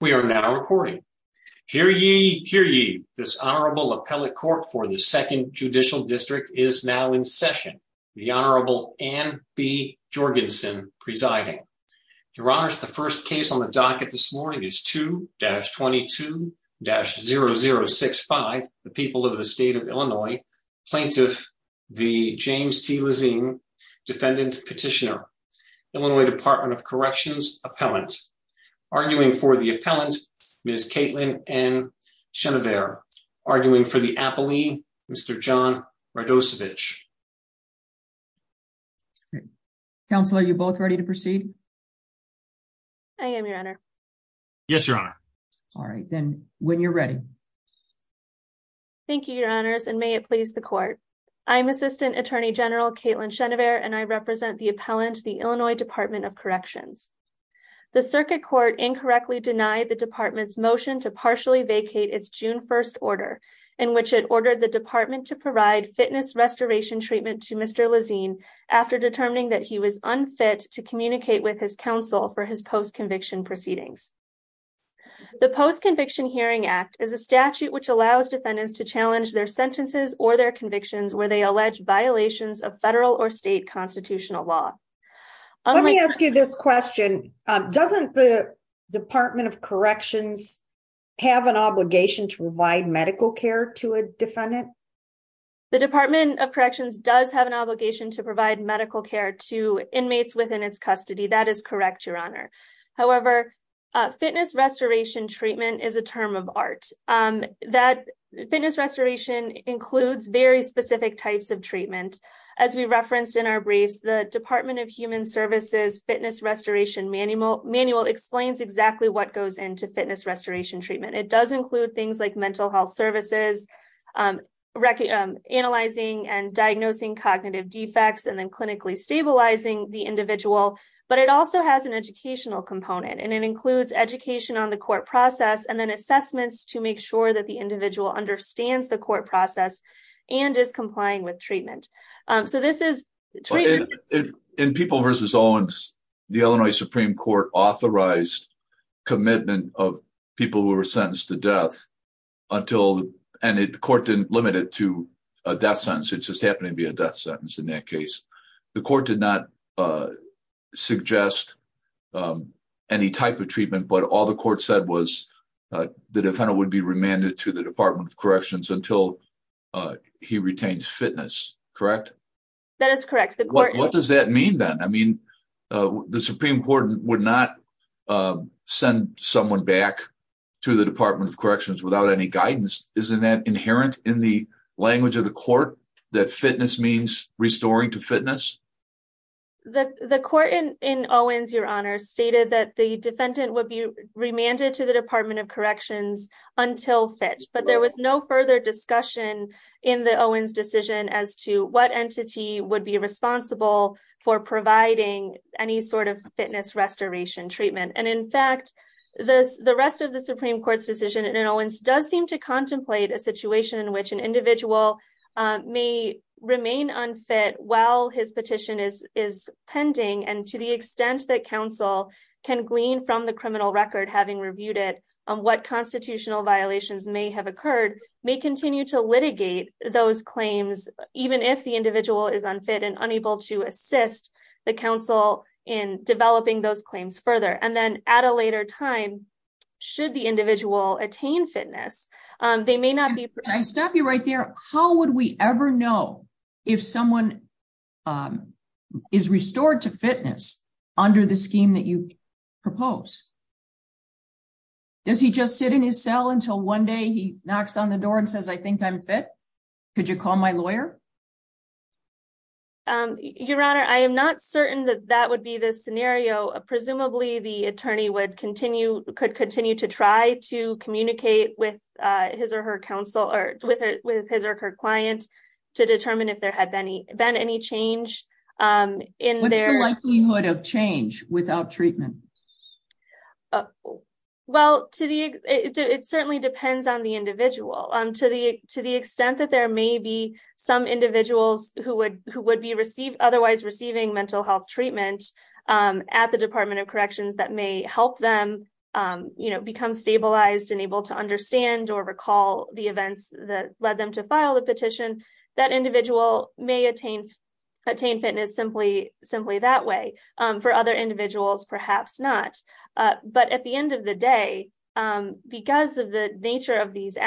We are now recording. Hear ye, hear ye. This Honorable Appellate Court for the Second Judicial District is now in session. The Honorable Anne B. Jorgensen presiding. Your Honors, the first case on the docket this morning is 2-22-0065, the People of the State of Illinois, Plaintiff, the James T. Lezine, Defendant Petitioner, Illinois Department of Corrections, Appellant. Arguing for the Appellant, Ms. Caitlin N. Chenevert. Arguing for the Appellee, Mr. John Radosevich. Counselor, are you both ready to proceed? I am, Your Honor. Yes, Your Honor. All right, then when you're ready. Thank you, Your Honors, and may it please the Court. I am Assistant Attorney General Caitlin Chenevert and I represent the Appellant, the Illinois Department of Corrections. The Circuit Court incorrectly denied the Department's motion to partially vacate its June 1st order in which it ordered the Department to provide fitness restoration treatment to Mr. Lezine after determining that he was unfit to communicate with his counsel for his post-conviction proceedings. The Post-Conviction Hearing Act is a statute which allows defendants to challenge their sentences or their convictions where they allege violations of federal or state constitutional law. Let me ask you this question, doesn't the Department of Corrections have an obligation to provide medical care to a defendant? The Department of Corrections does have an obligation to provide medical care to inmates within its custody, that is correct, Your Honor. However, fitness restoration treatment is a term of art. Fitness restoration includes very specific types of treatment. As we referenced in our briefs, the Department of Human Services Fitness Restoration Manual explains exactly what goes into fitness restoration treatment. It does include things like mental health services, analyzing and diagnosing cognitive defects, and then clinically stabilizing the individual. But it also has an educational component and it includes education on the process and then assessments to make sure that the individual understands the court process and is complying with treatment. So this is... In People v. Owens, the Illinois Supreme Court authorized commitment of people who were sentenced to death until, and the court didn't limit it to a death sentence, it just happened to be a death sentence in that case. The court did not suggest any type of treatment, but all the court said was the defendant would be remanded to the Department of Corrections until he retains fitness, correct? That is correct. What does that mean then? I mean, the Supreme Court would not send someone back to the Department of Corrections without any guidance. Isn't that inherent in the language of the court that fitness means restoring to fitness? The court in Owens, Your Honor, stated that the defendant would be remanded to the Department of Corrections until fit, but there was no further discussion in the Owens decision as to what entity would be responsible for providing any sort of fitness restoration treatment. And in fact, the rest of the Supreme Court's decision in Owens does seem contemplate a situation in which an individual may remain unfit while his petition is pending, and to the extent that counsel can glean from the criminal record, having reviewed it, what constitutional violations may have occurred, may continue to litigate those claims, even if the individual is unfit and unable to assist the counsel in developing those claims further. And they may not be... Can I stop you right there? How would we ever know if someone is restored to fitness under the scheme that you propose? Does he just sit in his cell until one day he knocks on the door and says, I think I'm fit? Could you call my lawyer? Your Honor, I am not certain that that would be the scenario. Presumably, the attorney would continue... Could continue to try to communicate with his or her counsel or with his or her client to determine if there had been any change in their... What's the likelihood of change without treatment? Well, it certainly depends on the individual. To the extent that there may be some individuals who would be otherwise receiving mental health treatment at the Department of Corrections that may help them become stabilized and able to understand or recall the events that led them to file the petition, that individual may attain fitness simply that way. For other individuals, perhaps not. But at the end of the day, because of the nature of these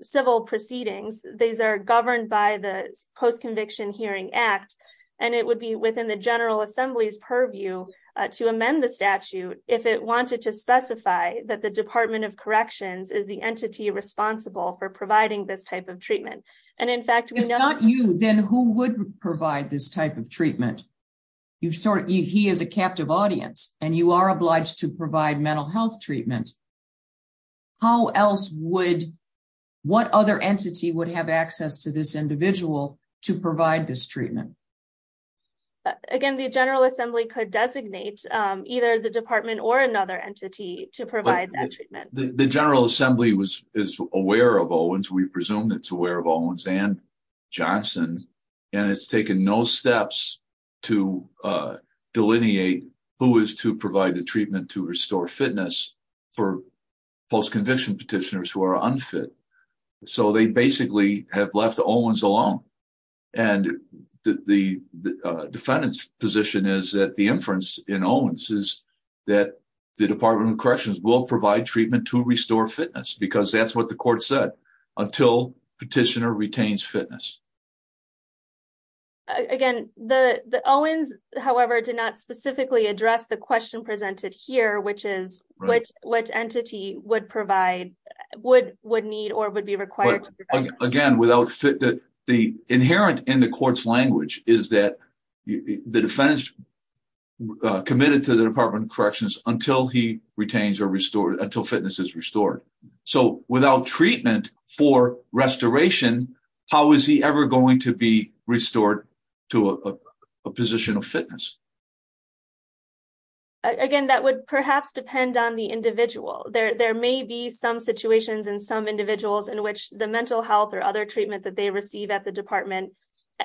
civil proceedings, these are governed by the Post-Conviction Hearing Act, and it would be within the General Assembly's purview to amend the statute if it wanted to specify that the Department of Corrections is the entity responsible for providing this type of treatment. And in fact, we know... If not you, then who would provide this type of treatment? He is a captive audience, and you are obliged to provide mental health treatment. How else would... What other entity would have access to this individual to provide this treatment? Again, the General Assembly could designate either the department or another entity to provide that treatment. The General Assembly is aware of Owens. We presume it's aware of Owens and Johnson, and it's taken no steps to delineate who is to provide the treatment to restore fitness for post-conviction petitioners who are unfit. So they basically have left Owens alone. And the defendant's position is that the inference in Owens is that the Department of Corrections will provide treatment to restore fitness, because that's what the court said, until petitioner retains fitness. Again, the Owens, however, did not specifically address the question presented here, which is which entity would provide, would need, or would be required to provide... Again, without... The inherent in the court's language is that the defense committed to the Department of Corrections until he for restoration, how is he ever going to be restored to a position of fitness? Again, that would perhaps depend on the individual. There may be some situations in some individuals in which the mental health or other treatment that they receive at the department...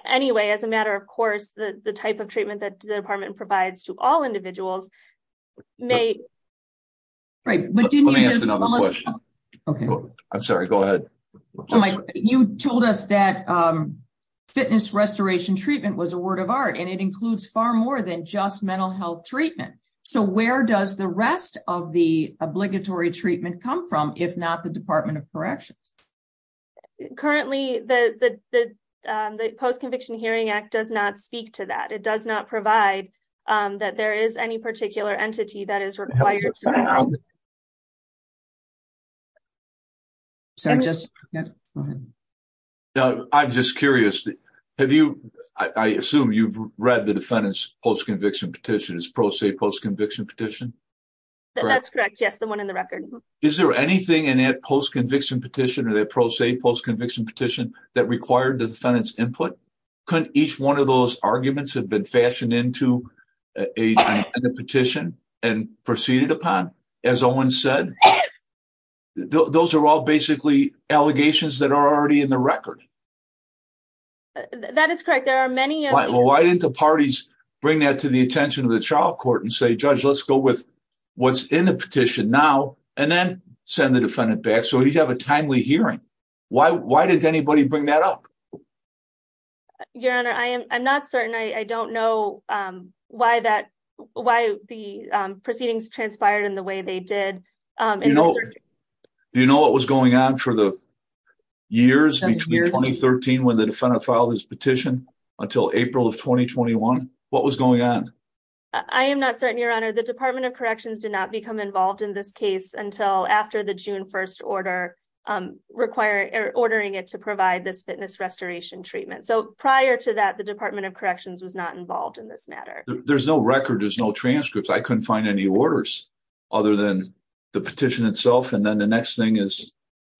Anyway, as a matter of course, the type of treatment that the department provides to all individuals may... Right, but didn't you just... Let me ask another question. Okay. I'm sorry, go ahead. You told us that fitness restoration treatment was a word of art, and it includes far more than just mental health treatment. So where does the rest of the obligatory treatment come from, if not the Department of Corrections? Currently, the Post-Conviction Hearing Act does not speak to that. It does not provide that there is any particular entity that is required... Sorry, just... Go ahead. I'm just curious, have you... I assume you've read the defendant's post-conviction petition, it's pro se post-conviction petition? That's correct. Yes, the one in the record. Is there anything in that post-conviction petition or that pro se post-conviction petition that required the defendant's input? Could each one of those arguments have been fashioned into a petition and proceeded upon, as Owen said? Those are all basically allegations that are already in the record. That is correct. There are many... Why didn't the parties bring that to the attention of the trial court and say, Judge, let's go with what's in the petition now, and then send the defendant back, so we'd have a timely hearing? Why didn't anybody bring that up? Your Honor, I'm not certain. I don't know why the proceedings transpired in the way they did. Do you know what was going on for the years between 2013, when the defendant filed his petition, until April of 2021? What was going on? I am not certain, Your Honor. The Department of Corrections did not become involved in this case until after the June 1st order, ordering it to provide this fitness restoration treatment. Prior to that, the Department of Corrections was not involved in this matter. There's no record. There's no transcripts. I couldn't find any orders, other than the petition itself. Then the next thing is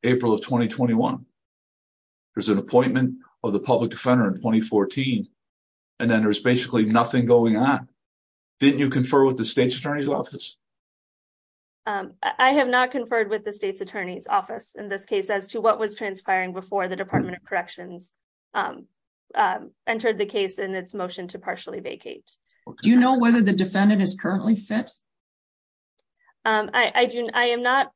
April of 2021. There's an appointment of the public defender in 2014. Then there's basically nothing going on. I have not conferred with the state's attorney's office in this case, as to what was transpiring before the Department of Corrections entered the case in its motion to partially vacate. Do you know whether the defendant is currently fit? I'm not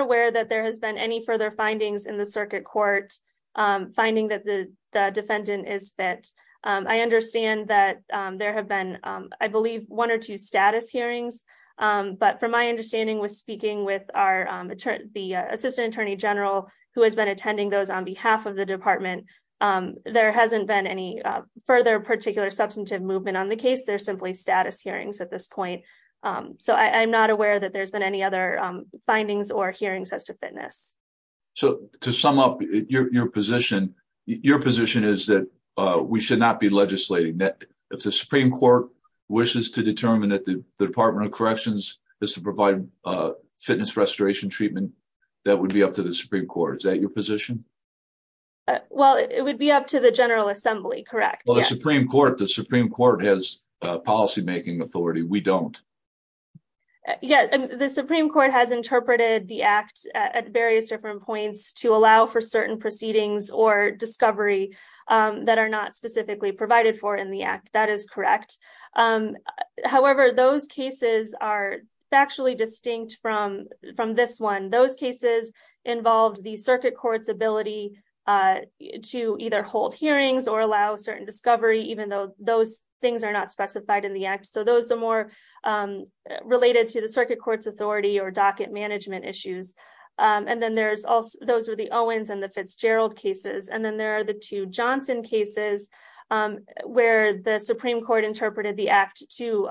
aware that there has been any further findings in the circuit court, finding that the defendant is fit. I understand that there have been, I believe, one or two status hearings. But from my understanding, speaking with the assistant attorney general, who has been attending those on behalf of the department, there hasn't been any further particular substantive movement on the case. They're simply status hearings at this point. I'm not aware that there's been any other findings or hearings as to fitness. To sum up your position, your position is that we should not be legislating. If the Supreme Court wishes to determine that the Department of Corrections is to provide fitness restoration treatment, that would be up to the Supreme Court. Is that your position? Well, it would be up to the General Assembly, correct? Well, the Supreme Court has policymaking authority. We don't. The Supreme Court has interpreted the act at various different points to allow for certain proceedings or discovery that are not specifically provided for in the act. That is correct. However, those cases are factually distinct from this one. Those cases involved the circuit court's ability to either hold hearings or allow certain discovery, even though those things are not specified in the act. Those are more related to the circuit court's authority or docket management issues. Those were the Owens and the Fitzgerald cases. Then there are the two Johnson cases, where the Supreme Court interpreted the act to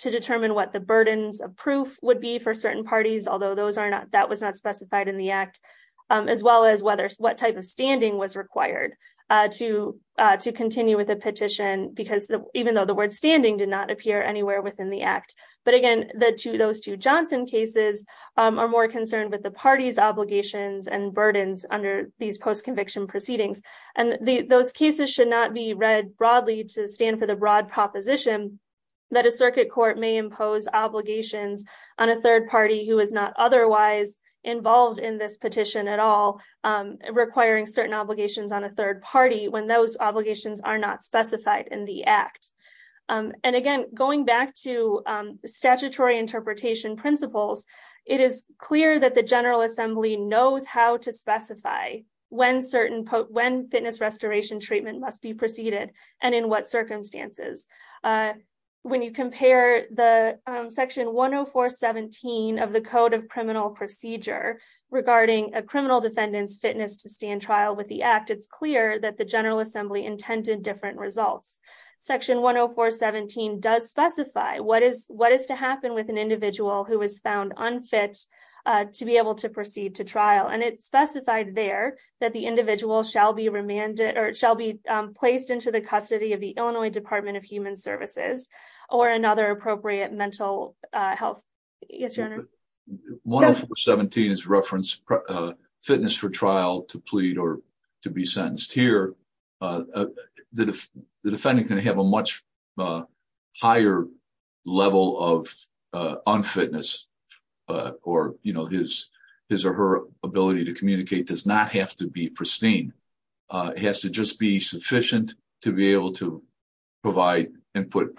determine what the burdens of proof would be for certain parties, although that was not specified in the act, as well as what type of standing was required to continue with a petition, even though the word standing did not appear anywhere within the act. Again, those two Johnson cases are more concerned with the party's obligations. The cases should not be read broadly to stand for the broad proposition that a circuit court may impose obligations on a third party who is not otherwise involved in this petition at all, requiring certain obligations on a third party when those obligations are not specified in the act. Again, going back to statutory interpretation principles, it is clear that the and in what circumstances. When you compare the section 104.17 of the Code of Criminal Procedure regarding a criminal defendant's fitness to stand trial with the act, it is clear that the General Assembly intended different results. Section 104.17 does specify what is to happen with an individual who is found unfit to be able to proceed to trial. It is specified there that the defendant is placed into the custody of the Illinois Department of Human Services or another appropriate mental health. Yes, your honor. 104.17 is reference fitness for trial to plead or to be sentenced. Here, the defendant can have a much higher level of unfitness or his or her ability to communicate does not have to be pristine. It has to just be sufficient to be able to provide input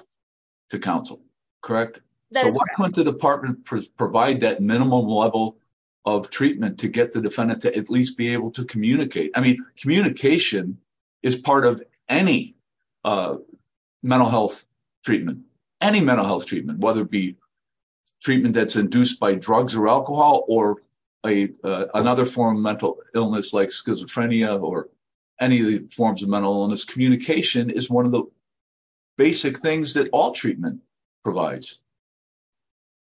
to counsel, correct? So why would the department provide that minimum level of treatment to get the defendant to at least be able to communicate? I mean, communication is part of any mental health treatment, any mental health treatment, whether it be treatment that's induced by drugs or alcohol or another form of mental illness like schizophrenia or any of the forms of mental illness, communication is one of the basic things that all treatment provides.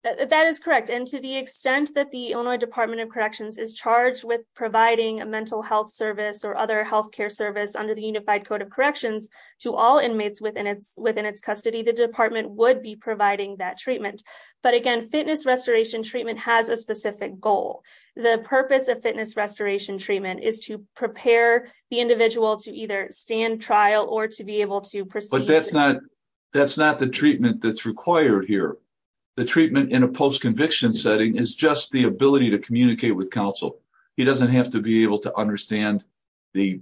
That is correct. And to the extent that the Illinois Department of Corrections is charged with providing a mental health service or other health care service under the Unified Code of Corrections to all inmates within its custody, the department would be providing that treatment. But again, fitness restoration treatment has a specific goal. The purpose of fitness restoration treatment is to prepare the individual to either stand trial or to be able to proceed. That's not the treatment that's required here. The treatment in a post-conviction setting is just the ability to communicate with counsel. He doesn't have to be able to understand the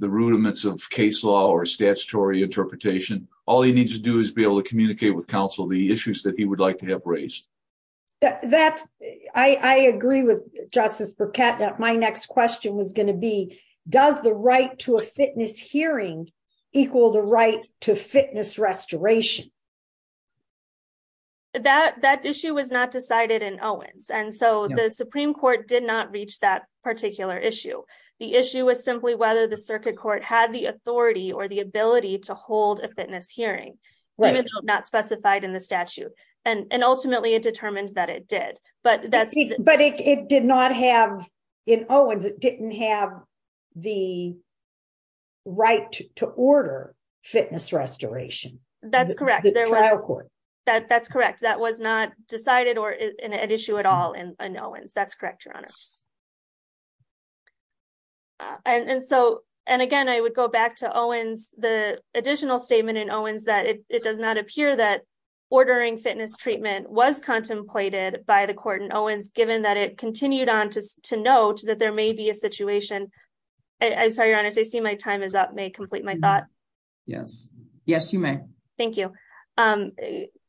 rudiments of case law or statutory interpretation. All he needs to do is be able to communicate with issues that he would like to have raised. I agree with Justice Burkett that my next question was going to be, does the right to a fitness hearing equal the right to fitness restoration? That issue was not decided in Owens. And so the Supreme Court did not reach that particular issue. The issue was simply whether the circuit court had the authority or the ability to and ultimately it determined that it did. But it did not have in Owens, it didn't have the right to order fitness restoration. That's correct. That's correct. That was not decided or an issue at all in Owens. That's correct, Your Honor. And again, I would go back to Owens, the additional statement in Owens that it does not appear that ordering fitness treatment was contemplated by the court in Owens, given that it continued on to note that there may be a situation. I'm sorry, Your Honor, I see my time is up. May I complete my thought? Yes. Yes, you may. Thank you.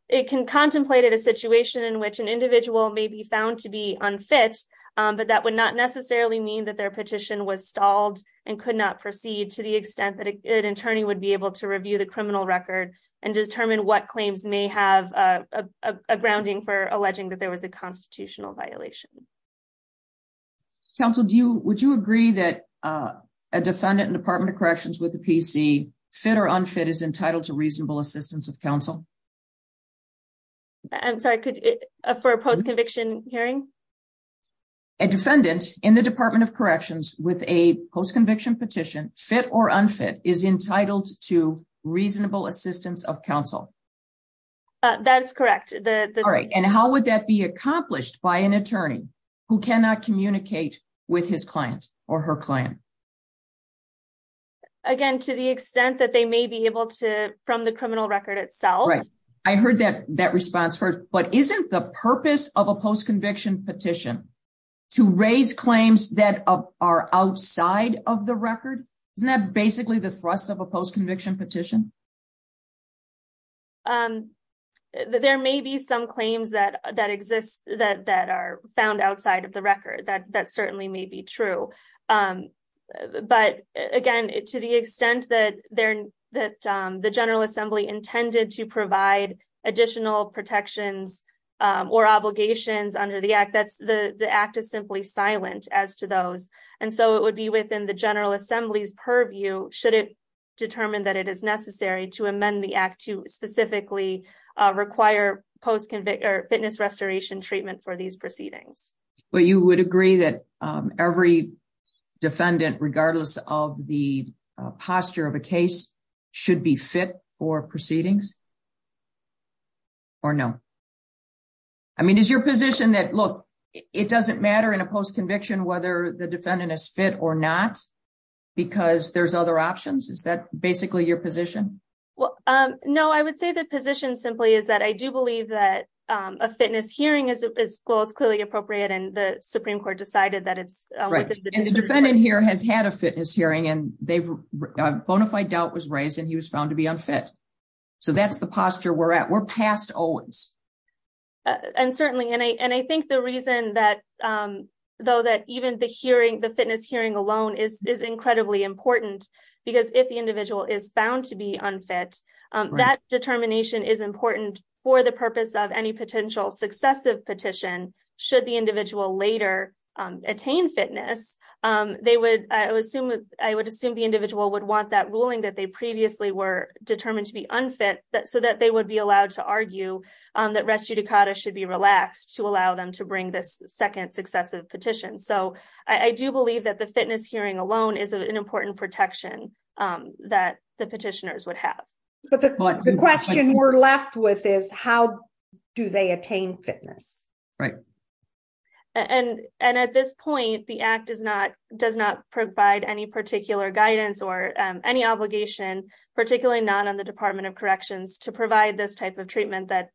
It contemplated a situation in which an individual may be found to be unfit, but that would not necessarily mean that their petition was stalled and could not proceed to the extent that an attorney would be able to review the criminal record and determine what claims may have a grounding for alleging that there was a constitutional violation. Counsel, would you agree that a defendant in the Department of Corrections with a PC, fit or unfit, is entitled to reasonable assistance of counsel? I'm sorry, for a post-conviction hearing? A defendant in the Department of Corrections with a post-conviction petition, fit or unfit, is entitled to reasonable assistance of counsel? That's correct. All right. And how would that be accomplished by an attorney who cannot communicate with his client or her client? Again, to the extent that they may be able to, from the criminal record itself. Right. I heard that response first, but isn't the purpose of a post-conviction petition to raise claims that are outside of the record? Isn't that basically the thrust of a post-conviction petition? There may be some claims that exist that are found outside of the record. That certainly may be true. But again, to the extent that the General Assembly intended to provide additional protections or obligations under the Act, the Act is simply silent as to those. And so it would be within the General Assembly's purview, should it determine that it is necessary to amend the Act to specifically require fitness restoration treatment for these proceedings. You would agree that every defendant, regardless of the posture of a case, should be fit for proceedings? Or no? I mean, is your position that, look, it doesn't matter in a post-conviction whether the defendant is fit or not, because there's other options? Is that basically your position? No, I would say the position simply is that I do believe that a fitness hearing is, well, it's clearly appropriate, and the Supreme Court decided that it's within the district's purview. The defendant here has had a fitness hearing and a bona fide doubt was raised and he was found to be unfit. So that's the posture we're at. We're past Owens. And certainly, and I think the reason that though that even the hearing, the fitness hearing alone is incredibly important, because if the individual is found to be unfit, that determination is important for the purpose of any potential successive petition. Should the individual later attain fitness, I would assume the individual would want that ruling that they previously were determined to be unfit so that they would be allowed to argue that res judicata should be relaxed to allow them to bring this second successive petition. So I do believe that the fitness hearing alone is an important protection that the petitioners would have. But the question we're left with is how do they attain fitness? Right. And at this point, the Act does not provide any particular guidance or any obligation, particularly not on the Department of Corrections, to provide this type of treatment that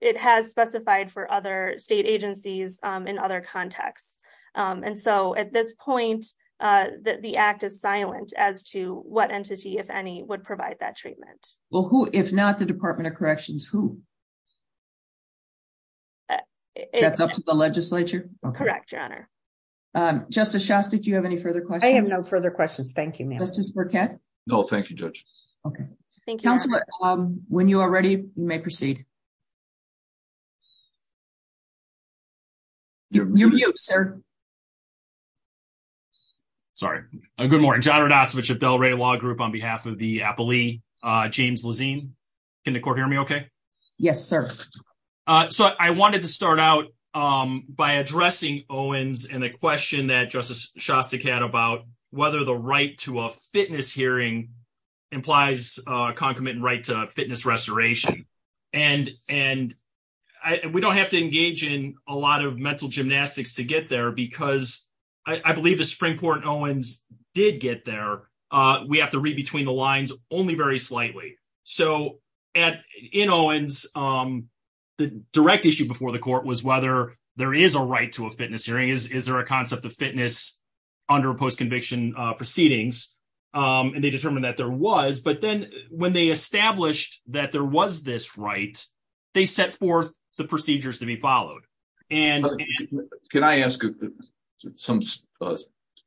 it has specified for other state agencies in other contexts. And so at this point, the Act is silent as to what entity, if any, would provide that treatment. Well, who, if not the Department of Corrections, who? That's up to the legislature? Correct, Your Honor. Justice Shasta, do you have any further questions? I have no further questions. Thank you, ma'am. Justice Burkett? No, thank you, Judge. Okay. Thank you. When you are ready, you may proceed. You're mute, sir. Sorry. Good morning. John Rodasiewicz of Delray Law Group on behalf of the appellee James Lezine. Can the court hear me okay? Yes, sir. So I wanted to start out by addressing Owens and the question that Justice Shasta had about whether the right to a fitness hearing implies a concomitant right to fitness restoration. And we don't have to engage in a lot of mental gymnastics to get there because I believe the Supreme Court in Owens did get there. We have to read between the lines only very slightly. So in Owens, the direct issue before the court was whether there is a right to a fitness hearing. Is there a concept of fitness under post-conviction proceedings? And they determined that there was. But then when they established that there was this right, they set forth the procedures to be followed. Can I ask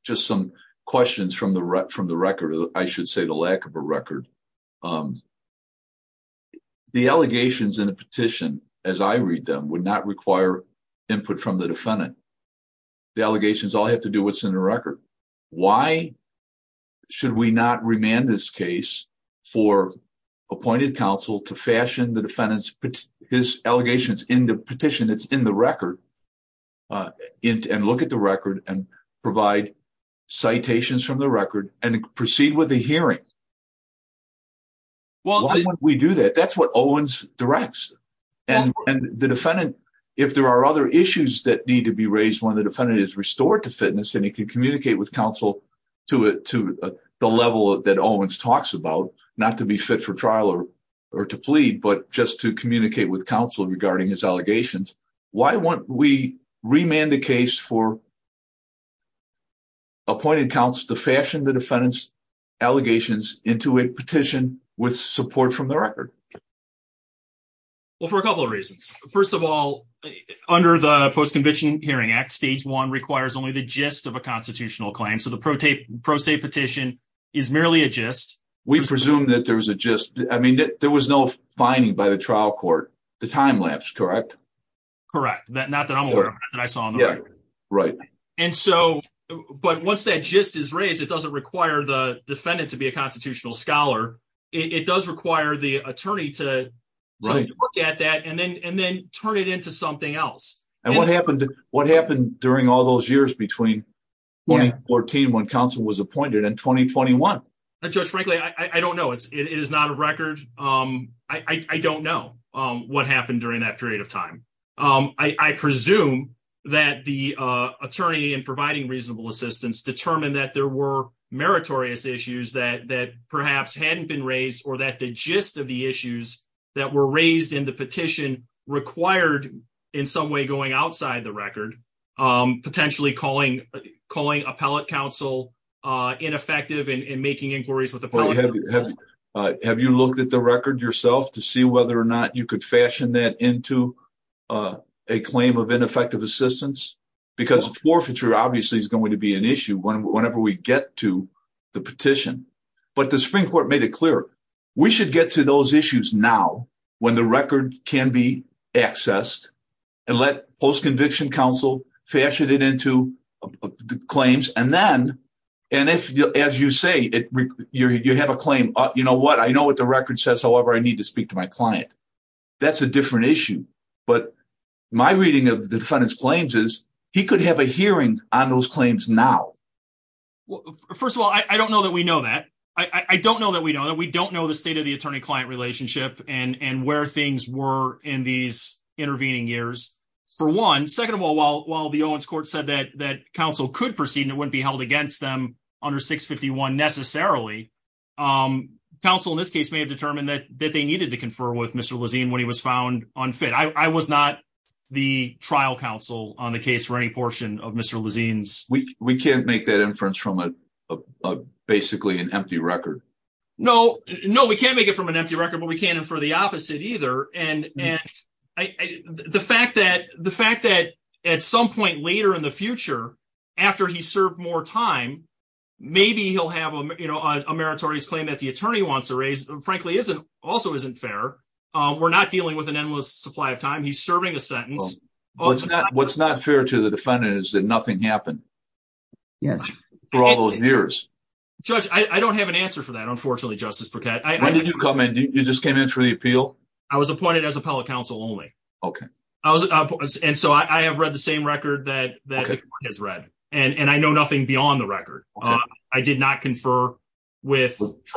just some questions from the record? I should say the lack of a record. The allegations in a petition, as I read them, would not require input from the defendant. The allegations all have to do with what's in the record. Why should we not remand this case for appointed counsel to fashion the defendant's allegations in the petition that's in the record and look at the record and provide citations from the record and proceed with the hearing? Why would we do that? That's what Owens directs. And the defendant, if there are other issues that need to be raised when the defendant is restored to fitness and he can communicate with counsel to the level that Owens talks about, not to be fit for trial or to plead, but just to communicate with counsel regarding his allegations. Why won't we remand the case for appointed counsel to fashion the defendant's allegations into a petition with support from the record? Well, for a couple of reasons. First of all, under the Post-Conviction Hearing Act, stage one requires only the gist of a constitutional claim. So the pro se petition is merely a gist. We presume that there was a gist. I mean, there was no finding by the trial court. The time lapse, correct? Correct. Not that I'm aware of, not that I saw on the record. Right. And so, but once that gist is raised, it doesn't require the defendant to be a constitutional scholar. It does require the attorney to look at that and then turn it into something else. And what happened during all those years between 2014 when counsel was appointed and 2021? Judge, frankly, I don't know. It is not a record. I don't know what happened during that period of time. I presume that the attorney in providing reasonable assistance determined that there were meritorious issues that perhaps hadn't been raised or that the gist of the issues that were raised in the petition required in some way going outside the record, potentially calling appellate counsel ineffective in making inquiries with appellate counsel. Have you looked at the record yourself to see whether or not you could fashion that into a claim of ineffective assistance? Because forfeiture obviously is going to be an issue whenever we get to the petition. But the Supreme Court made it clear we should get to those issues now when the record can be accessed and let post-conviction counsel fashion it into claims. And then, and if, as you say, you have a claim, you know what, I know what the record says, however, I need to speak to my client. That's a different issue. But my reading of the defendant's claims is he could have a hearing on those claims now. First of all, I don't know that we know that. I don't know that we know that we don't know the state of the attorney-client relationship and where things were in these intervening years, for one. Second of all, while the Owens Court said that counsel could proceed and it wouldn't be held against them under 651 necessarily, counsel in this case may have with Mr. Lezine when he was found unfit. I was not the trial counsel on the case for any portion of Mr. Lezine's. We can't make that inference from basically an empty record. No, no, we can't make it from an empty record, but we can't infer the opposite either. And the fact that at some point later in the future, after he served more time, maybe he'll have a meritorious claim that attorney wants to raise, frankly, also isn't fair. We're not dealing with an endless supply of time. He's serving a sentence. What's not fair to the defendant is that nothing happened for all those years. Judge, I don't have an answer for that, unfortunately, Justice Burkett. When did you come in? You just came in for the appeal? I was appointed as appellate counsel only. Okay. And so I have read the same record that the court has read, and I know nothing beyond the Did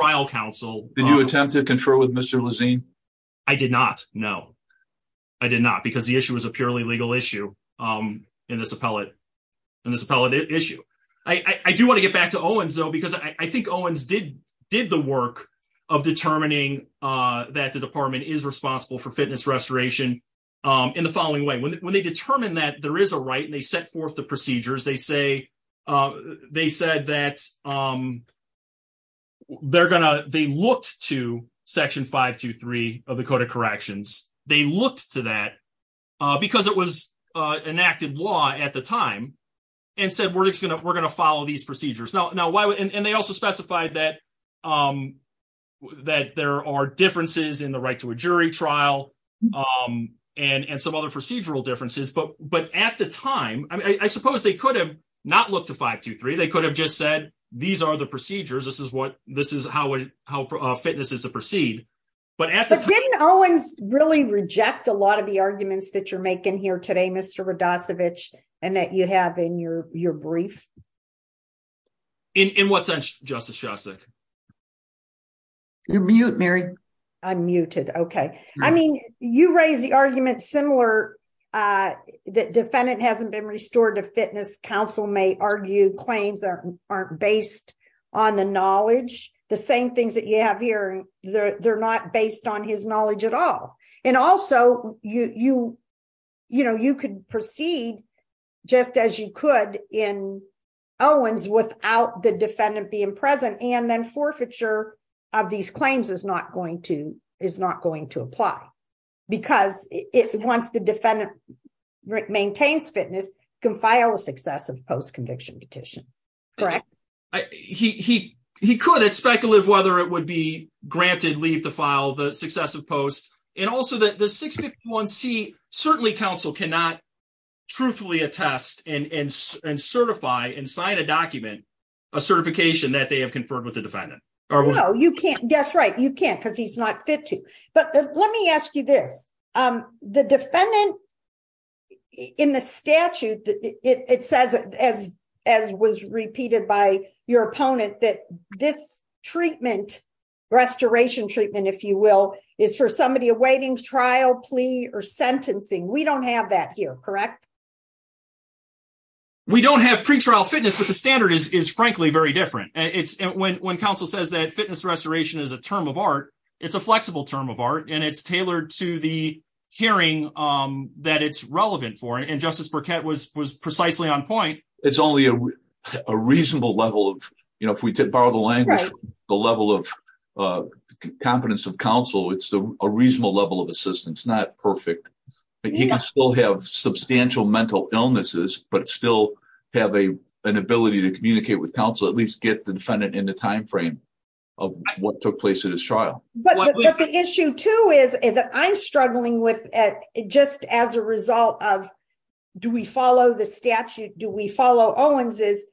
you attempt to confer with Mr. Lezine? I did not. No, I did not. Because the issue was a purely legal issue in this appellate issue. I do want to get back to Owens though, because I think Owens did the work of determining that the department is responsible for fitness restoration in the following way. When they determine that there is a right and they set that they looked to Section 523 of the Code of Corrections, they looked to that because it was enacted law at the time and said, we're just going to follow these procedures. And they also specified that there are differences in the right to a jury trial and some other procedural differences. But at the time, I suppose they could have not looked to 523. They could have said, these are the procedures. This is how fitness is to proceed. But at the time, But didn't Owens really reject a lot of the arguments that you're making here today, Mr. Radosevich, and that you have in your brief? In what sense, Justice Shostak? You're mute, Mary. I'm muted. Okay. I mean, you raise the argument similar that defendant hasn't been restored to fitness. Counsel may argue claims aren't based on the knowledge. The same things that you have here, they're not based on his knowledge at all. And also, you could proceed just as you could in Owens without the defendant being present and then forfeiture of these claims is not going to apply. Because once the defendant maintains fitness, can file a successive post conviction petition. Correct? He could have speculated whether it would be granted leave to file the successive post. And also that the 651c, certainly counsel cannot truthfully attest and certify and sign a document, a certification that they have conferred with the because he's not fit to. But let me ask you this. The defendant in the statute, it says, as was repeated by your opponent, that this treatment, restoration treatment, if you will, is for somebody awaiting trial plea or sentencing. We don't have that here, correct? We don't have pretrial fitness, but the standard is, frankly, very different. When counsel says that fitness restoration is a term of art, it's a flexible term of art and it's tailored to the hearing that it's relevant for. And Justice Burkett was precisely on point. It's only a reasonable level of, if we did borrow the language, the level of competence of counsel, it's a reasonable level of assistance, not perfect. He can still have substantial mental illnesses, but still have an ability to communicate with the defendant in the timeframe of what took place at his trial. But the issue too is that I'm struggling with just as a result of, do we follow the statute? Do we follow Owens's?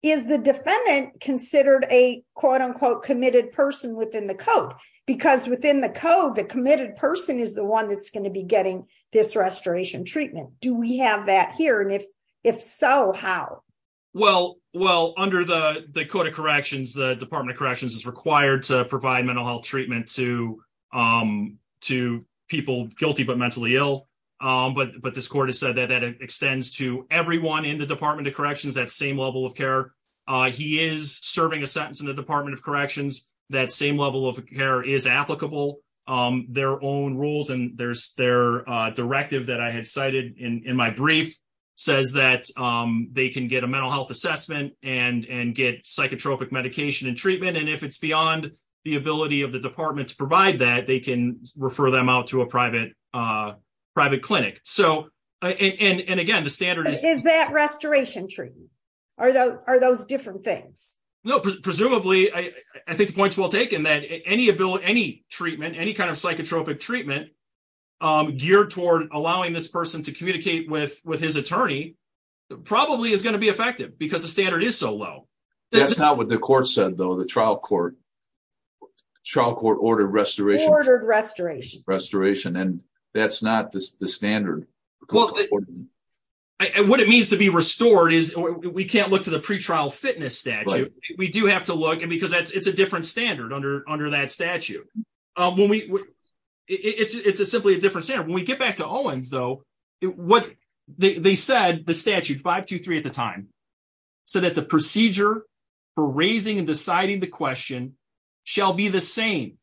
Is the defendant considered a quote unquote committed person within the code? Because within the code, the committed person is the one that's going to be getting this restoration treatment. Do we have that here? And if so, how? Well, under the code of corrections, the department of corrections is required to provide mental health treatment to people guilty, but mentally ill. But this court has said that that extends to everyone in the department of corrections, that same level of care. He is serving a sentence in the department of corrections. That same level of care is applicable. Their own rules and their directive that I had cited in my brief says that they can get a mental health assessment and get psychotropic medication and treatment. And if it's beyond the ability of the department to provide that, they can refer them out to a private clinic. And again, the standard is- Is that restoration treatment? Are those different things? No. Presumably, I think the point's well taken that any treatment, any kind of psychotropic treatment geared toward allowing this person to communicate with his attorney probably is going be effective because the standard is so low. That's not what the court said though, the trial court. Trial court ordered restoration. Ordered restoration. Restoration. And that's not the standard. What it means to be restored is we can't look to the pretrial fitness statute. We do have to look, and because it's a different standard under that statute. It's simply a different standard. When we get back to Owens though, they said the statute, 523 at the time, said that the procedure for raising and deciding the question shall be the same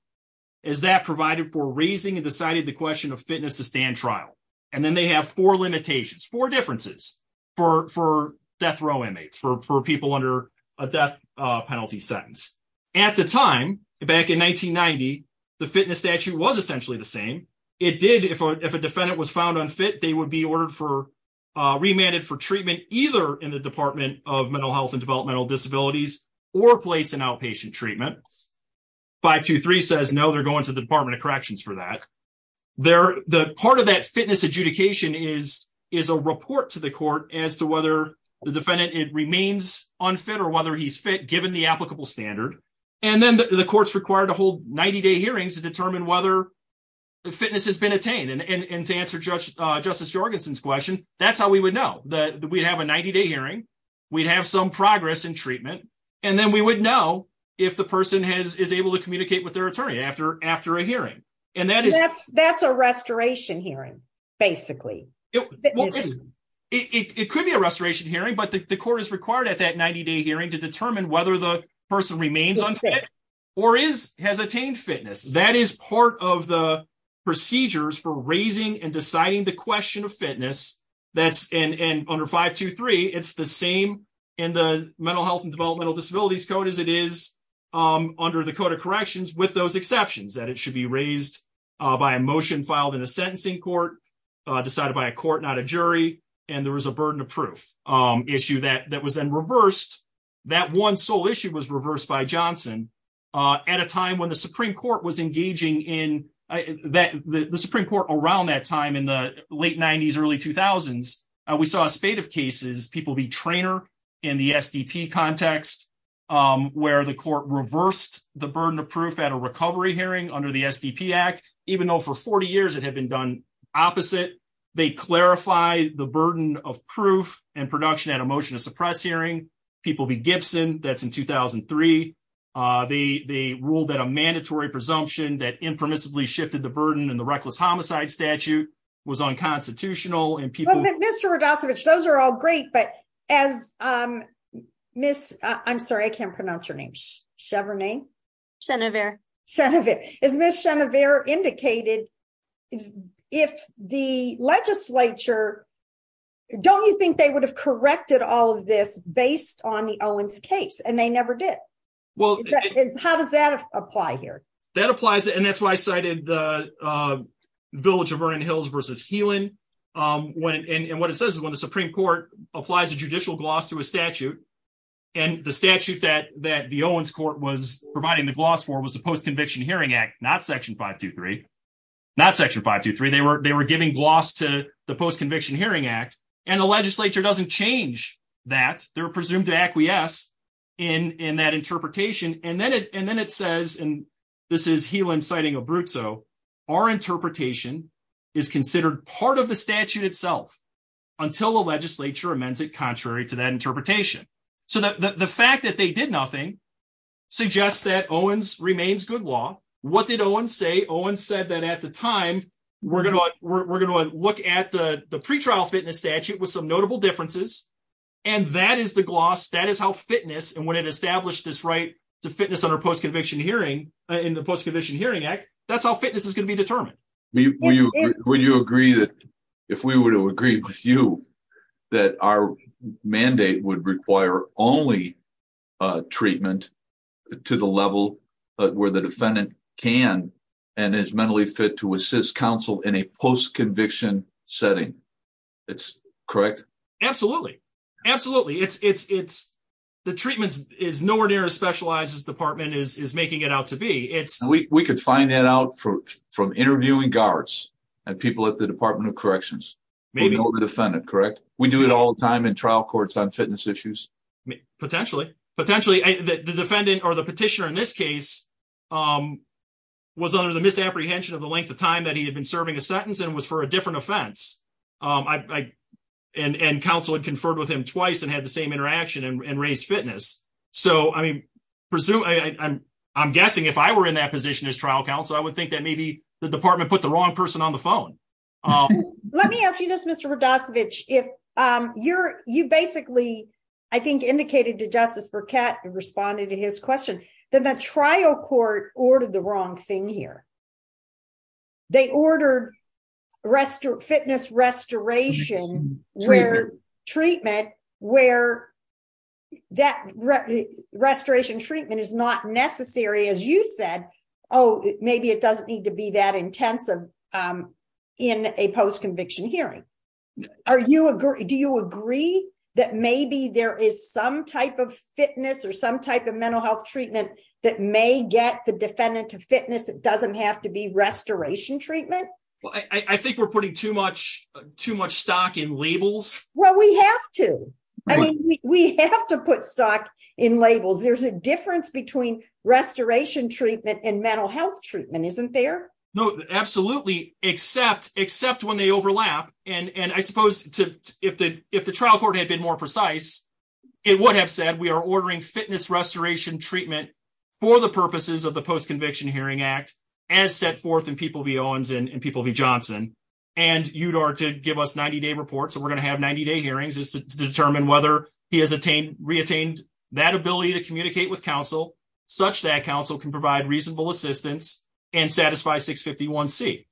as that provided for raising and deciding the question of fitness to stand trial. And then they have four limitations, four differences for death row inmates, for people under a death penalty sentence. At the time, back in 1990, the fitness statute was essentially the same. It did, if a defendant was found unfit, they would be remanded for treatment either in the Department of Mental Health and Developmental Disabilities or placed in outpatient treatment. 523 says no, they're going to the Department of Corrections for that. Part of that fitness adjudication is a report to the court as to whether the defendant remains unfit or whether he's fit given the applicable standard. And then the court's 90-day hearings to determine whether fitness has been attained. And to answer Justice Jorgensen's question, that's how we would know. We'd have a 90-day hearing, we'd have some progress in treatment, and then we would know if the person is able to communicate with their attorney after a hearing. That's a restoration hearing, basically. It could be a restoration hearing, but the court is required at that 90-day hearing to determine whether the person remains unfit or has attained fitness. That is part of the procedures for raising and deciding the question of fitness. And under 523, it's the same in the Mental Health and Developmental Disabilities Code as it is under the Code of Corrections, with those exceptions that it should be raised by a motion filed in a sentencing court, decided by a court, not a jury, and there was a at a time when the Supreme Court was engaging in, the Supreme Court around that time in the late 90s, early 2000s, we saw a spate of cases, people be trainer in the SDP context, where the court reversed the burden of proof at a recovery hearing under the SDP Act, even though for 40 years it had been done opposite. They clarified the burden of proof and production at a motion to suppress hearing. People be Gibson, that's in 2003. They ruled that a mandatory presumption that impermissibly shifted the burden in the reckless homicide statute was unconstitutional. And people... Mr. Rodasiewicz, those are all great, but as Miss... I'm sorry, I can't pronounce your name. Chevronay? Chenevert. As Miss Chenevert indicated, if the legislature, don't you think they would have corrected all of this based on the Owens case? And they never did. How does that apply here? That applies, and that's why I cited the village of Vernon Hills versus Helan. And what it says is when the Supreme Court applies a judicial gloss to a statute, and the statute that the gloss for was the Post-Conviction Hearing Act, not Section 523, they were giving gloss to the Post-Conviction Hearing Act, and the legislature doesn't change that. They're presumed to acquiesce in that interpretation. And then it says, and this is Helan citing Abruzzo, our interpretation is considered part of the statute itself until the legislature amends it remains good law. What did Owens say? Owens said that at the time, we're going to look at the pretrial fitness statute with some notable differences. And that is the gloss, that is how fitness, and when it established this right to fitness under Post-Conviction Hearing in the Post-Conviction Hearing Act, that's how fitness is going to be determined. Would you agree that if we were to agree with you, that our mandate would require only treatment to the level where the defendant can and is mentally fit to assist counsel in a post-conviction setting? It's correct? Absolutely. Absolutely. The treatment is nowhere near as specialized as this department is making it out to be. We could find that out from interviewing guards and people at the Department of Corrections. We know the defendant, correct? We do it all the time. The petitioner in this case was under the misapprehension of the length of time that he had been serving a sentence and was for a different offense. And counsel had conferred with him twice and had the same interaction and raised fitness. I'm guessing if I were in that position as trial counsel, I would think that maybe the department put the wrong person on the phone. Let me ask you Mr. Rodasiewicz, you basically, I think, indicated to Justice Burkett and responded to his question that the trial court ordered the wrong thing here. They ordered fitness restoration treatment where that restoration treatment is not necessary, as you said. Oh, maybe it doesn't need to be that Are you agree? Do you agree that maybe there is some type of fitness or some type of mental health treatment that may get the defendant to fitness that doesn't have to be restoration treatment? Well, I think we're putting too much too much stock in labels. Well, we have to. I mean, we have to put stock in labels. There's a difference between restoration treatment and overlap. And I suppose if the trial court had been more precise, it would have said we are ordering fitness restoration treatment for the purposes of the Post-Conviction Hearing Act as set forth in People v. Owens and People v. Johnson and UDAR to give us 90-day reports. So we're going to have 90-day hearings to determine whether he has re-attained that ability to communicate with counsel such that counsel can provide reasonable assistance and speculate.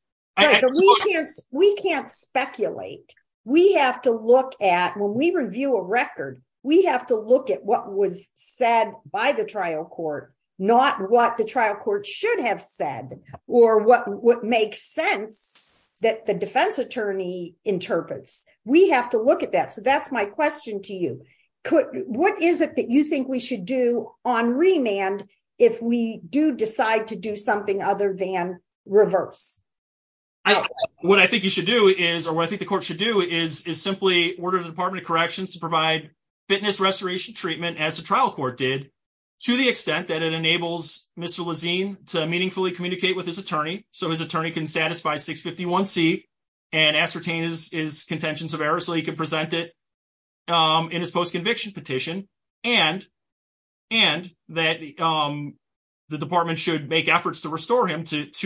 When we review a record, we have to look at what was said by the trial court, not what the trial court should have said or what makes sense that the defense attorney interprets. We have to look at that. So that's my question to you. What is it that you think we should do on remand if we do decide to do something other than reverse? I don't know. What I think you should do is, or what I think the court should do, is simply order the Department of Corrections to provide fitness restoration treatment, as the trial court did, to the extent that it enables Mr. Lazine to meaningfully communicate with his attorney so his attorney can satisfy 651C and ascertain his contentions of error so he can present it in his post-conviction petition and that the department should make efforts to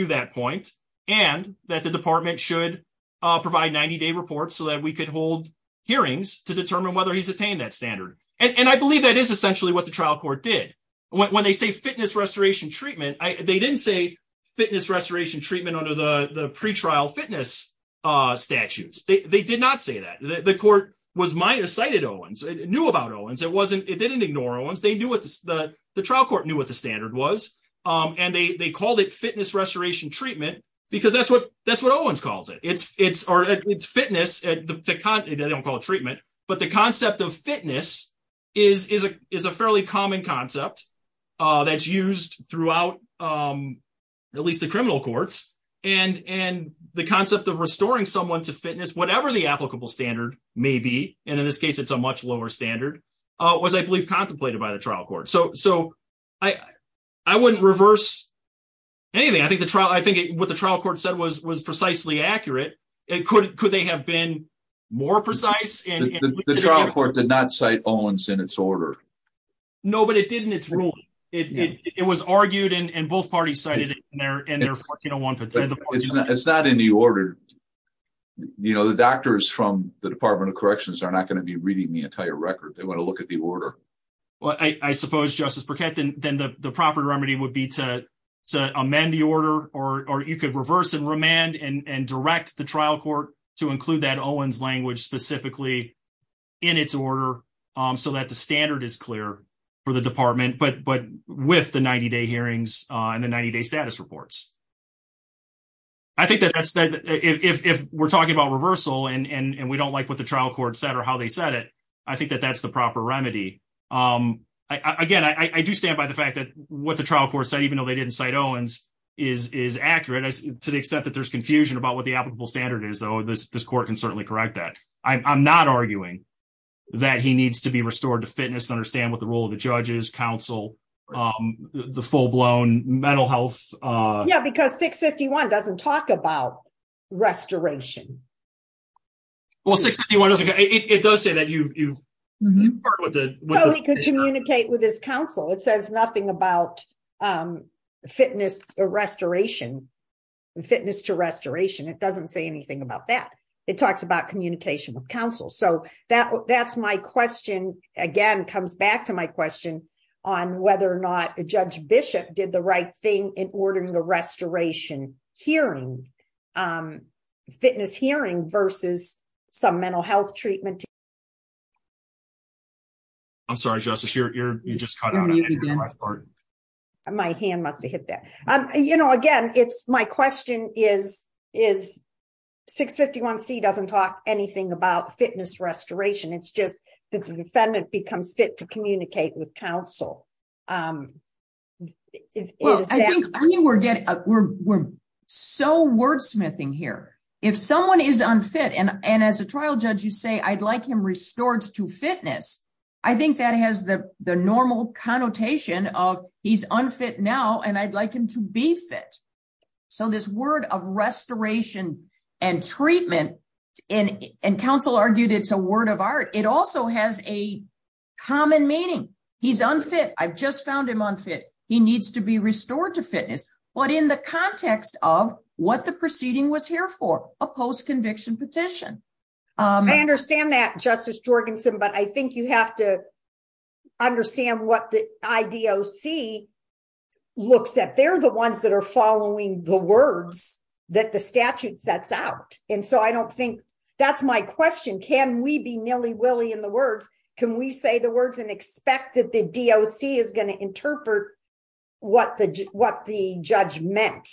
that point and that the department should provide 90-day reports so that we could hold hearings to determine whether he's attained that standard. And I believe that is essentially what the trial court did. When they say fitness restoration treatment, they didn't say fitness restoration treatment under the pre-trial fitness statutes. They did not say that. The court was minus cited Owens. It knew about Owens. It didn't ignore Owens. The trial court knew what the standard was and they called it fitness restoration treatment because that's what Owens calls it. It's fitness, they don't call it treatment, but the concept of fitness is a fairly common concept that's used throughout at least the criminal courts. And the concept of restoring someone to fitness, whatever the applicable standard may be, and in this case it's a much lower standard, was I believe contemplated by the trial court. So I wouldn't reverse anything. I think what the trial court said was precisely accurate. Could they have been more precise? The trial court did not cite Owens in its order. No, but it did in its ruling. It was argued and both parties cited it. It's not in the order. The doctors from the Department of Corrections are not going to be they want to look at the order. Well, I suppose, Justice Burkett, then the proper remedy would be to amend the order or you could reverse and remand and direct the trial court to include that Owens language specifically in its order so that the standard is clear for the department, but with the 90-day hearings and the 90-day status reports. I think that if we're talking about reversal and we don't like what the trial court said or how they said it, I think that that's the proper remedy. Again, I do stand by the fact that what the trial court said, even though they didn't cite Owens, is accurate to the extent that there's confusion about what the applicable standard is, though this court can certainly correct that. I'm not arguing that he needs to be restored to fitness to understand what the role of the judge is, counsel, the full-blown mental health. Yeah, because 651 doesn't talk about restoration. Well, 651 doesn't, it does say that you've heard what the... So he could communicate with his counsel. It says nothing about fitness restoration, fitness to restoration. It doesn't say anything about that. It talks about communication with counsel. So that's my question, again, comes back to my question on whether or Bishop did the right thing in ordering the restoration hearing, fitness hearing versus some mental health treatment. I'm sorry, Justice, you just cut out on the last part. My hand must've hit that. Again, my question is 651C doesn't talk anything about fitness restoration. It's just that the defendant becomes fit to communicate with counsel. Well, I think we're so wordsmithing here. If someone is unfit, and as a trial judge, you say, I'd like him restored to fitness. I think that has the normal connotation of he's unfit now, and I'd like him to be fit. So this word of restoration and treatment, and counsel argued it's a word of art. It also has a common meaning. He's unfit. I've just found him unfit. He needs to be restored to fitness. But in the context of what the proceeding was here for, a post-conviction petition. I understand that Justice Jorgensen, but I think you have to understand what the IDOC looks at. They're the ones that are following the words that the statute sets out. And so I don't can we be nilly willy in the words? Can we say the words and expect that the DOC is going to interpret what the judge meant?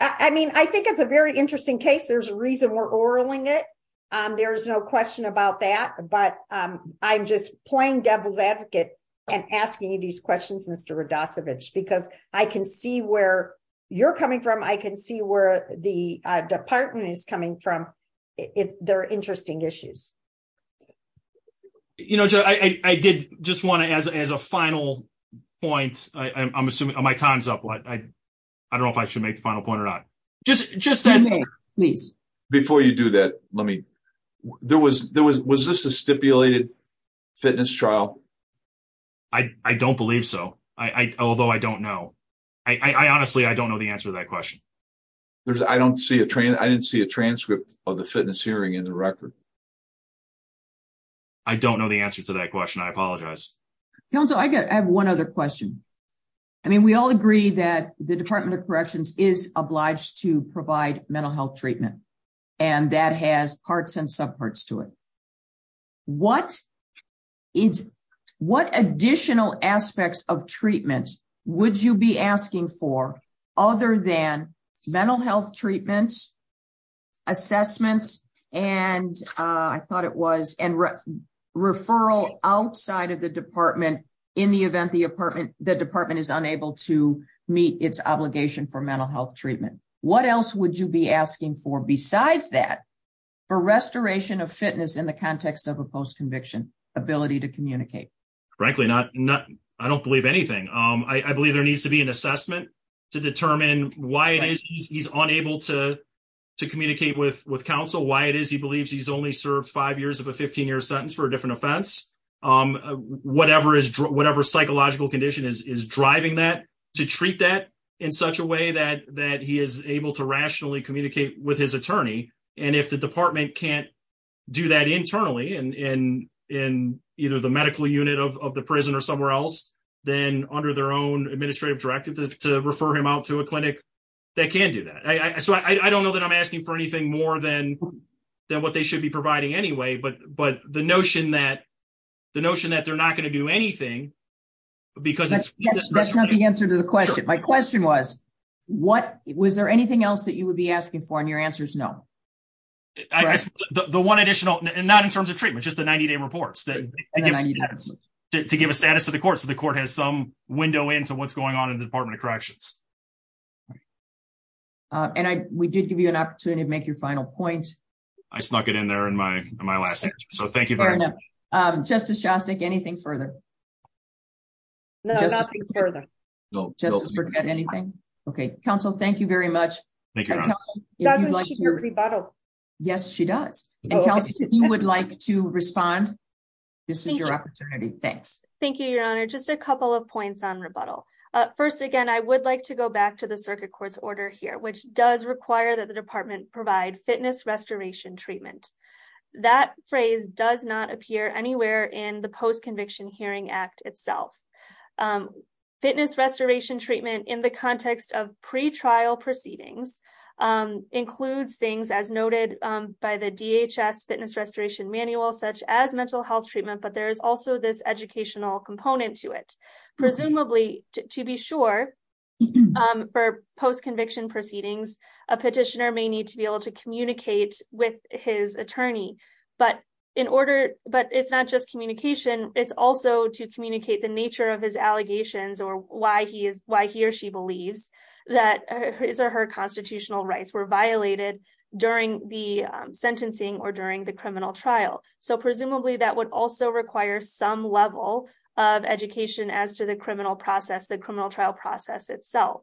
I mean, I think it's a very interesting case. There's a reason we're oraling it. There's no question about that, but I'm just playing devil's advocate and asking you these questions, Mr. Radosevich, because I can see where you're coming from. I can see where the department is coming from. They're interesting issues. You know, Joe, I did just want to, as a final point, I'm assuming my time's up. I don't know if I should make the final point or not. Before you do that, let me, was this a stipulated fitness trial? I don't believe so. Although I don't know. Honestly, I don't know the answer to that question. I didn't see a transcript of the fitness hearing in the record. I don't know the answer to that question. I apologize. Council, I have one other question. I mean, we all agree that the Department of Corrections is obliged to provide mental health treatment and that has parts and subparts to it. What additional aspects of treatment would you be asking for other than mental health treatment, assessments, and I thought it was, referral outside of the department in the event the department is unable to meet its obligation for mental health treatment? What else would you be asking for besides that for restoration of fitness in the context of a post-conviction ability to communicate? Frankly, I don't believe anything. I believe there needs to be an assessment to determine why it is he's unable to communicate with counsel, why it is he believes he's only served five years of a 15-year sentence for a different offense. Whatever psychological condition is driving that to treat that in such a way that he is able to rationally communicate with his attorney. If the department can't do that internally in either the medical unit of the prison or somewhere else, then under their own administrative directive to refer him out to a clinic, they can do that. I don't know that I'm asking for anything more than what they should be providing anyway, but the notion that they're not going to do anything because it's- That's not the answer to the question. My question was, was there anything else that you would be asking for? Your answer is no. The one additional, not in terms of treatment, just the 90-day reports to give a status to the court so the court has some window into what's going on in the Department of Corrections. We did give you an opportunity to make your final point. I snuck it in there in my last answer, so thank you very much. Justice Shostak, anything further? No, nothing further. Justice Burkett, anything? Okay. Counsel, thank you very much. Thank you, Your Honor. Doesn't she hear rebuttal? Yes, she does. Counsel, if you would like to respond, this is your opportunity. Thanks. Thank you, Your Honor. Just a couple of points on rebuttal. First again, I would like to go back to the circuit court's order here, which does require that the department provide fitness restoration treatment. That phrase does not appear anywhere in the post-conviction hearing act itself. Fitness restoration treatment in the context of pre-trial proceedings includes things as noted by the DHS fitness restoration manual, such as mental health treatment, but there is also this educational component to it. Presumably, to be sure, for post-conviction proceedings, a petitioner may need to be able to communicate with his attorney, but it's not just communication. It's also to communicate the nature of his allegations or why he or she believes that his or her constitutional rights were violated during the sentencing or during the criminal trial. Presumably, that would also require some level of education as to the criminal trial process itself.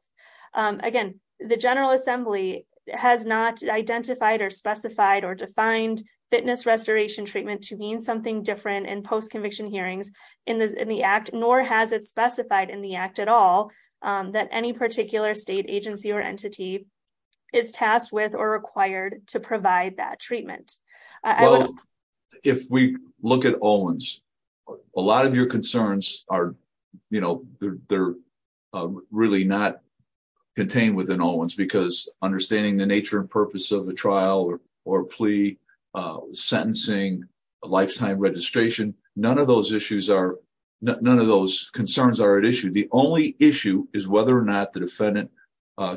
Again, the General Assembly has not identified or specified or defined fitness restoration treatment to mean something different in post-conviction hearings in the act, nor has it specified in the act at all that any particular state agency or entity is tasked with or required to provide that treatment. If we look at Owens, a lot of your concerns are really not contained within Owens because understanding the nature and purpose of a trial or plea, sentencing, lifetime registration, none of those concerns are at issue. The only issue is whether or not the defendant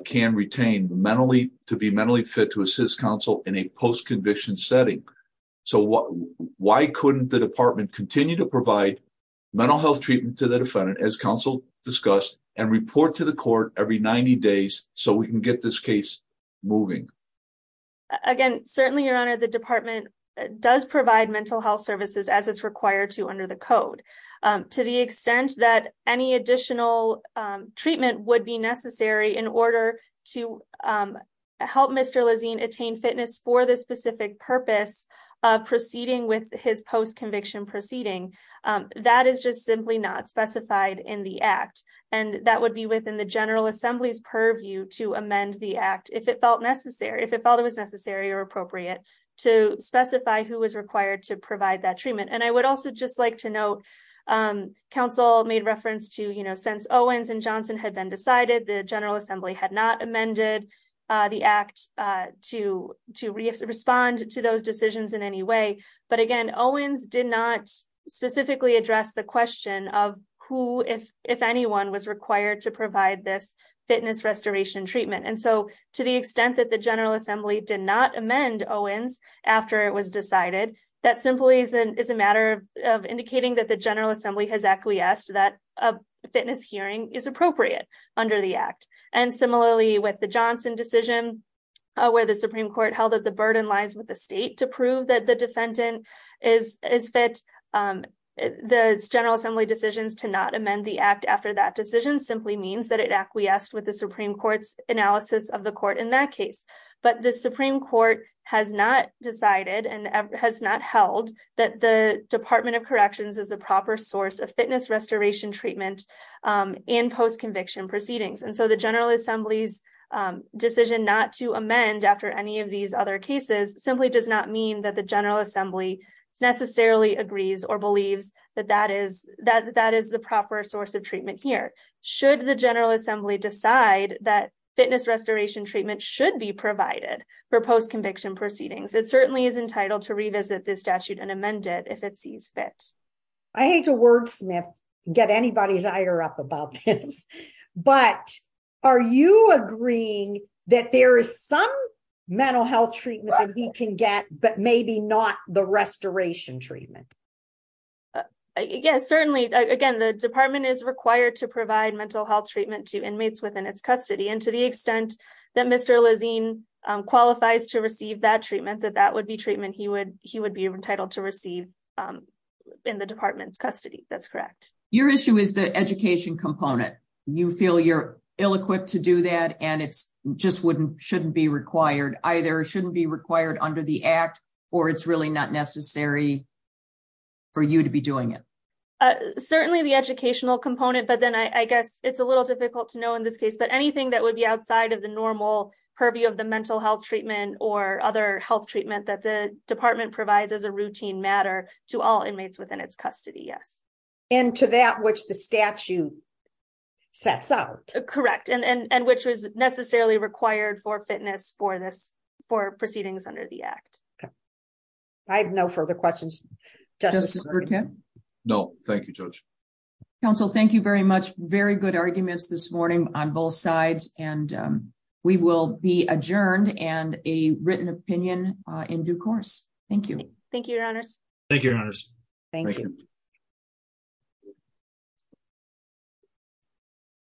can retain to be mentally fit to assist counsel in a post-conviction setting. Why couldn't the department continue to provide mental health treatment to the defendant, as counsel discussed, and report to the court every 90 days so we can get this case moving? Again, certainly, your honor, the department does provide mental health services as it's required to under the code. To the extent that any additional treatment would be necessary in order to help Mr. Lazine attain fitness for the specific purpose of proceeding with his post-conviction proceeding, that is just simply not specified in the act. That would be within the General Assembly's purview to amend the act if it felt necessary or appropriate to specify who was required to provide that treatment. I would also just like to note, counsel made reference to, since Owens and Johnson had been decided, the General Assembly had not amended the act to respond to those decisions in any way. But again, Owens did not specifically address the question of who, if anyone, was required to provide this fitness restoration treatment. To the extent that the General Assembly did not amend Owens after it was decided, that simply is a matter of indicating that the General Assembly has acquiesced that a fitness hearing is appropriate under the act. And similarly, with the Johnson decision, where the Supreme Court held that the burden lies with the state to prove that the defendant is fit, the General Assembly decisions to not amend the act after that decision simply means that it acquiesced with the Supreme Court's analysis of the court in that case. But the Supreme Court has not decided and has not held that the Department of Corrections is the proper source of fitness restoration treatment in post-conviction proceedings. And so the General Assembly's decision not to amend after any of these other cases simply does not mean that the General Assembly necessarily agrees or believes that that is the proper source of treatment here. Should the General Assembly decide that fitness restoration treatment should be provided for post-conviction proceedings, it certainly is entitled to revisit this statute and amend it if it sees fit. I hate to wordsmith, get anybody's ire up about this, but are you agreeing that there is some mental health treatment that he can get, but maybe not the restoration treatment? Yes, certainly. Again, the department is required to provide mental health treatment to inmates within its custody. And to the extent that Mr. Lezine qualifies to receive that treatment, that that would be treatment he would be entitled to receive in the department's custody, that's correct. Your issue is the education component. You feel you're ill-equipped to do that and it just shouldn't be required. Either it shouldn't be required under the act or it's really not necessary for you to be doing it. Certainly the educational component, but then I guess it's a little difficult to know in this case, but anything that would be outside of the normal purview of the mental health treatment or other health treatment that the department provides as a routine matter to all inmates within its custody, yes. And to that which the statute sets out. Correct. And which was necessarily required for fitness for proceedings under the act. I have no further questions. No, thank you, Judge. Counsel, thank you very much. Very good arguments this morning on both sides. And we will be adjourned and a written opinion in due course. Thank you. Thank you, your honors. Thank you, your honors. Thank you.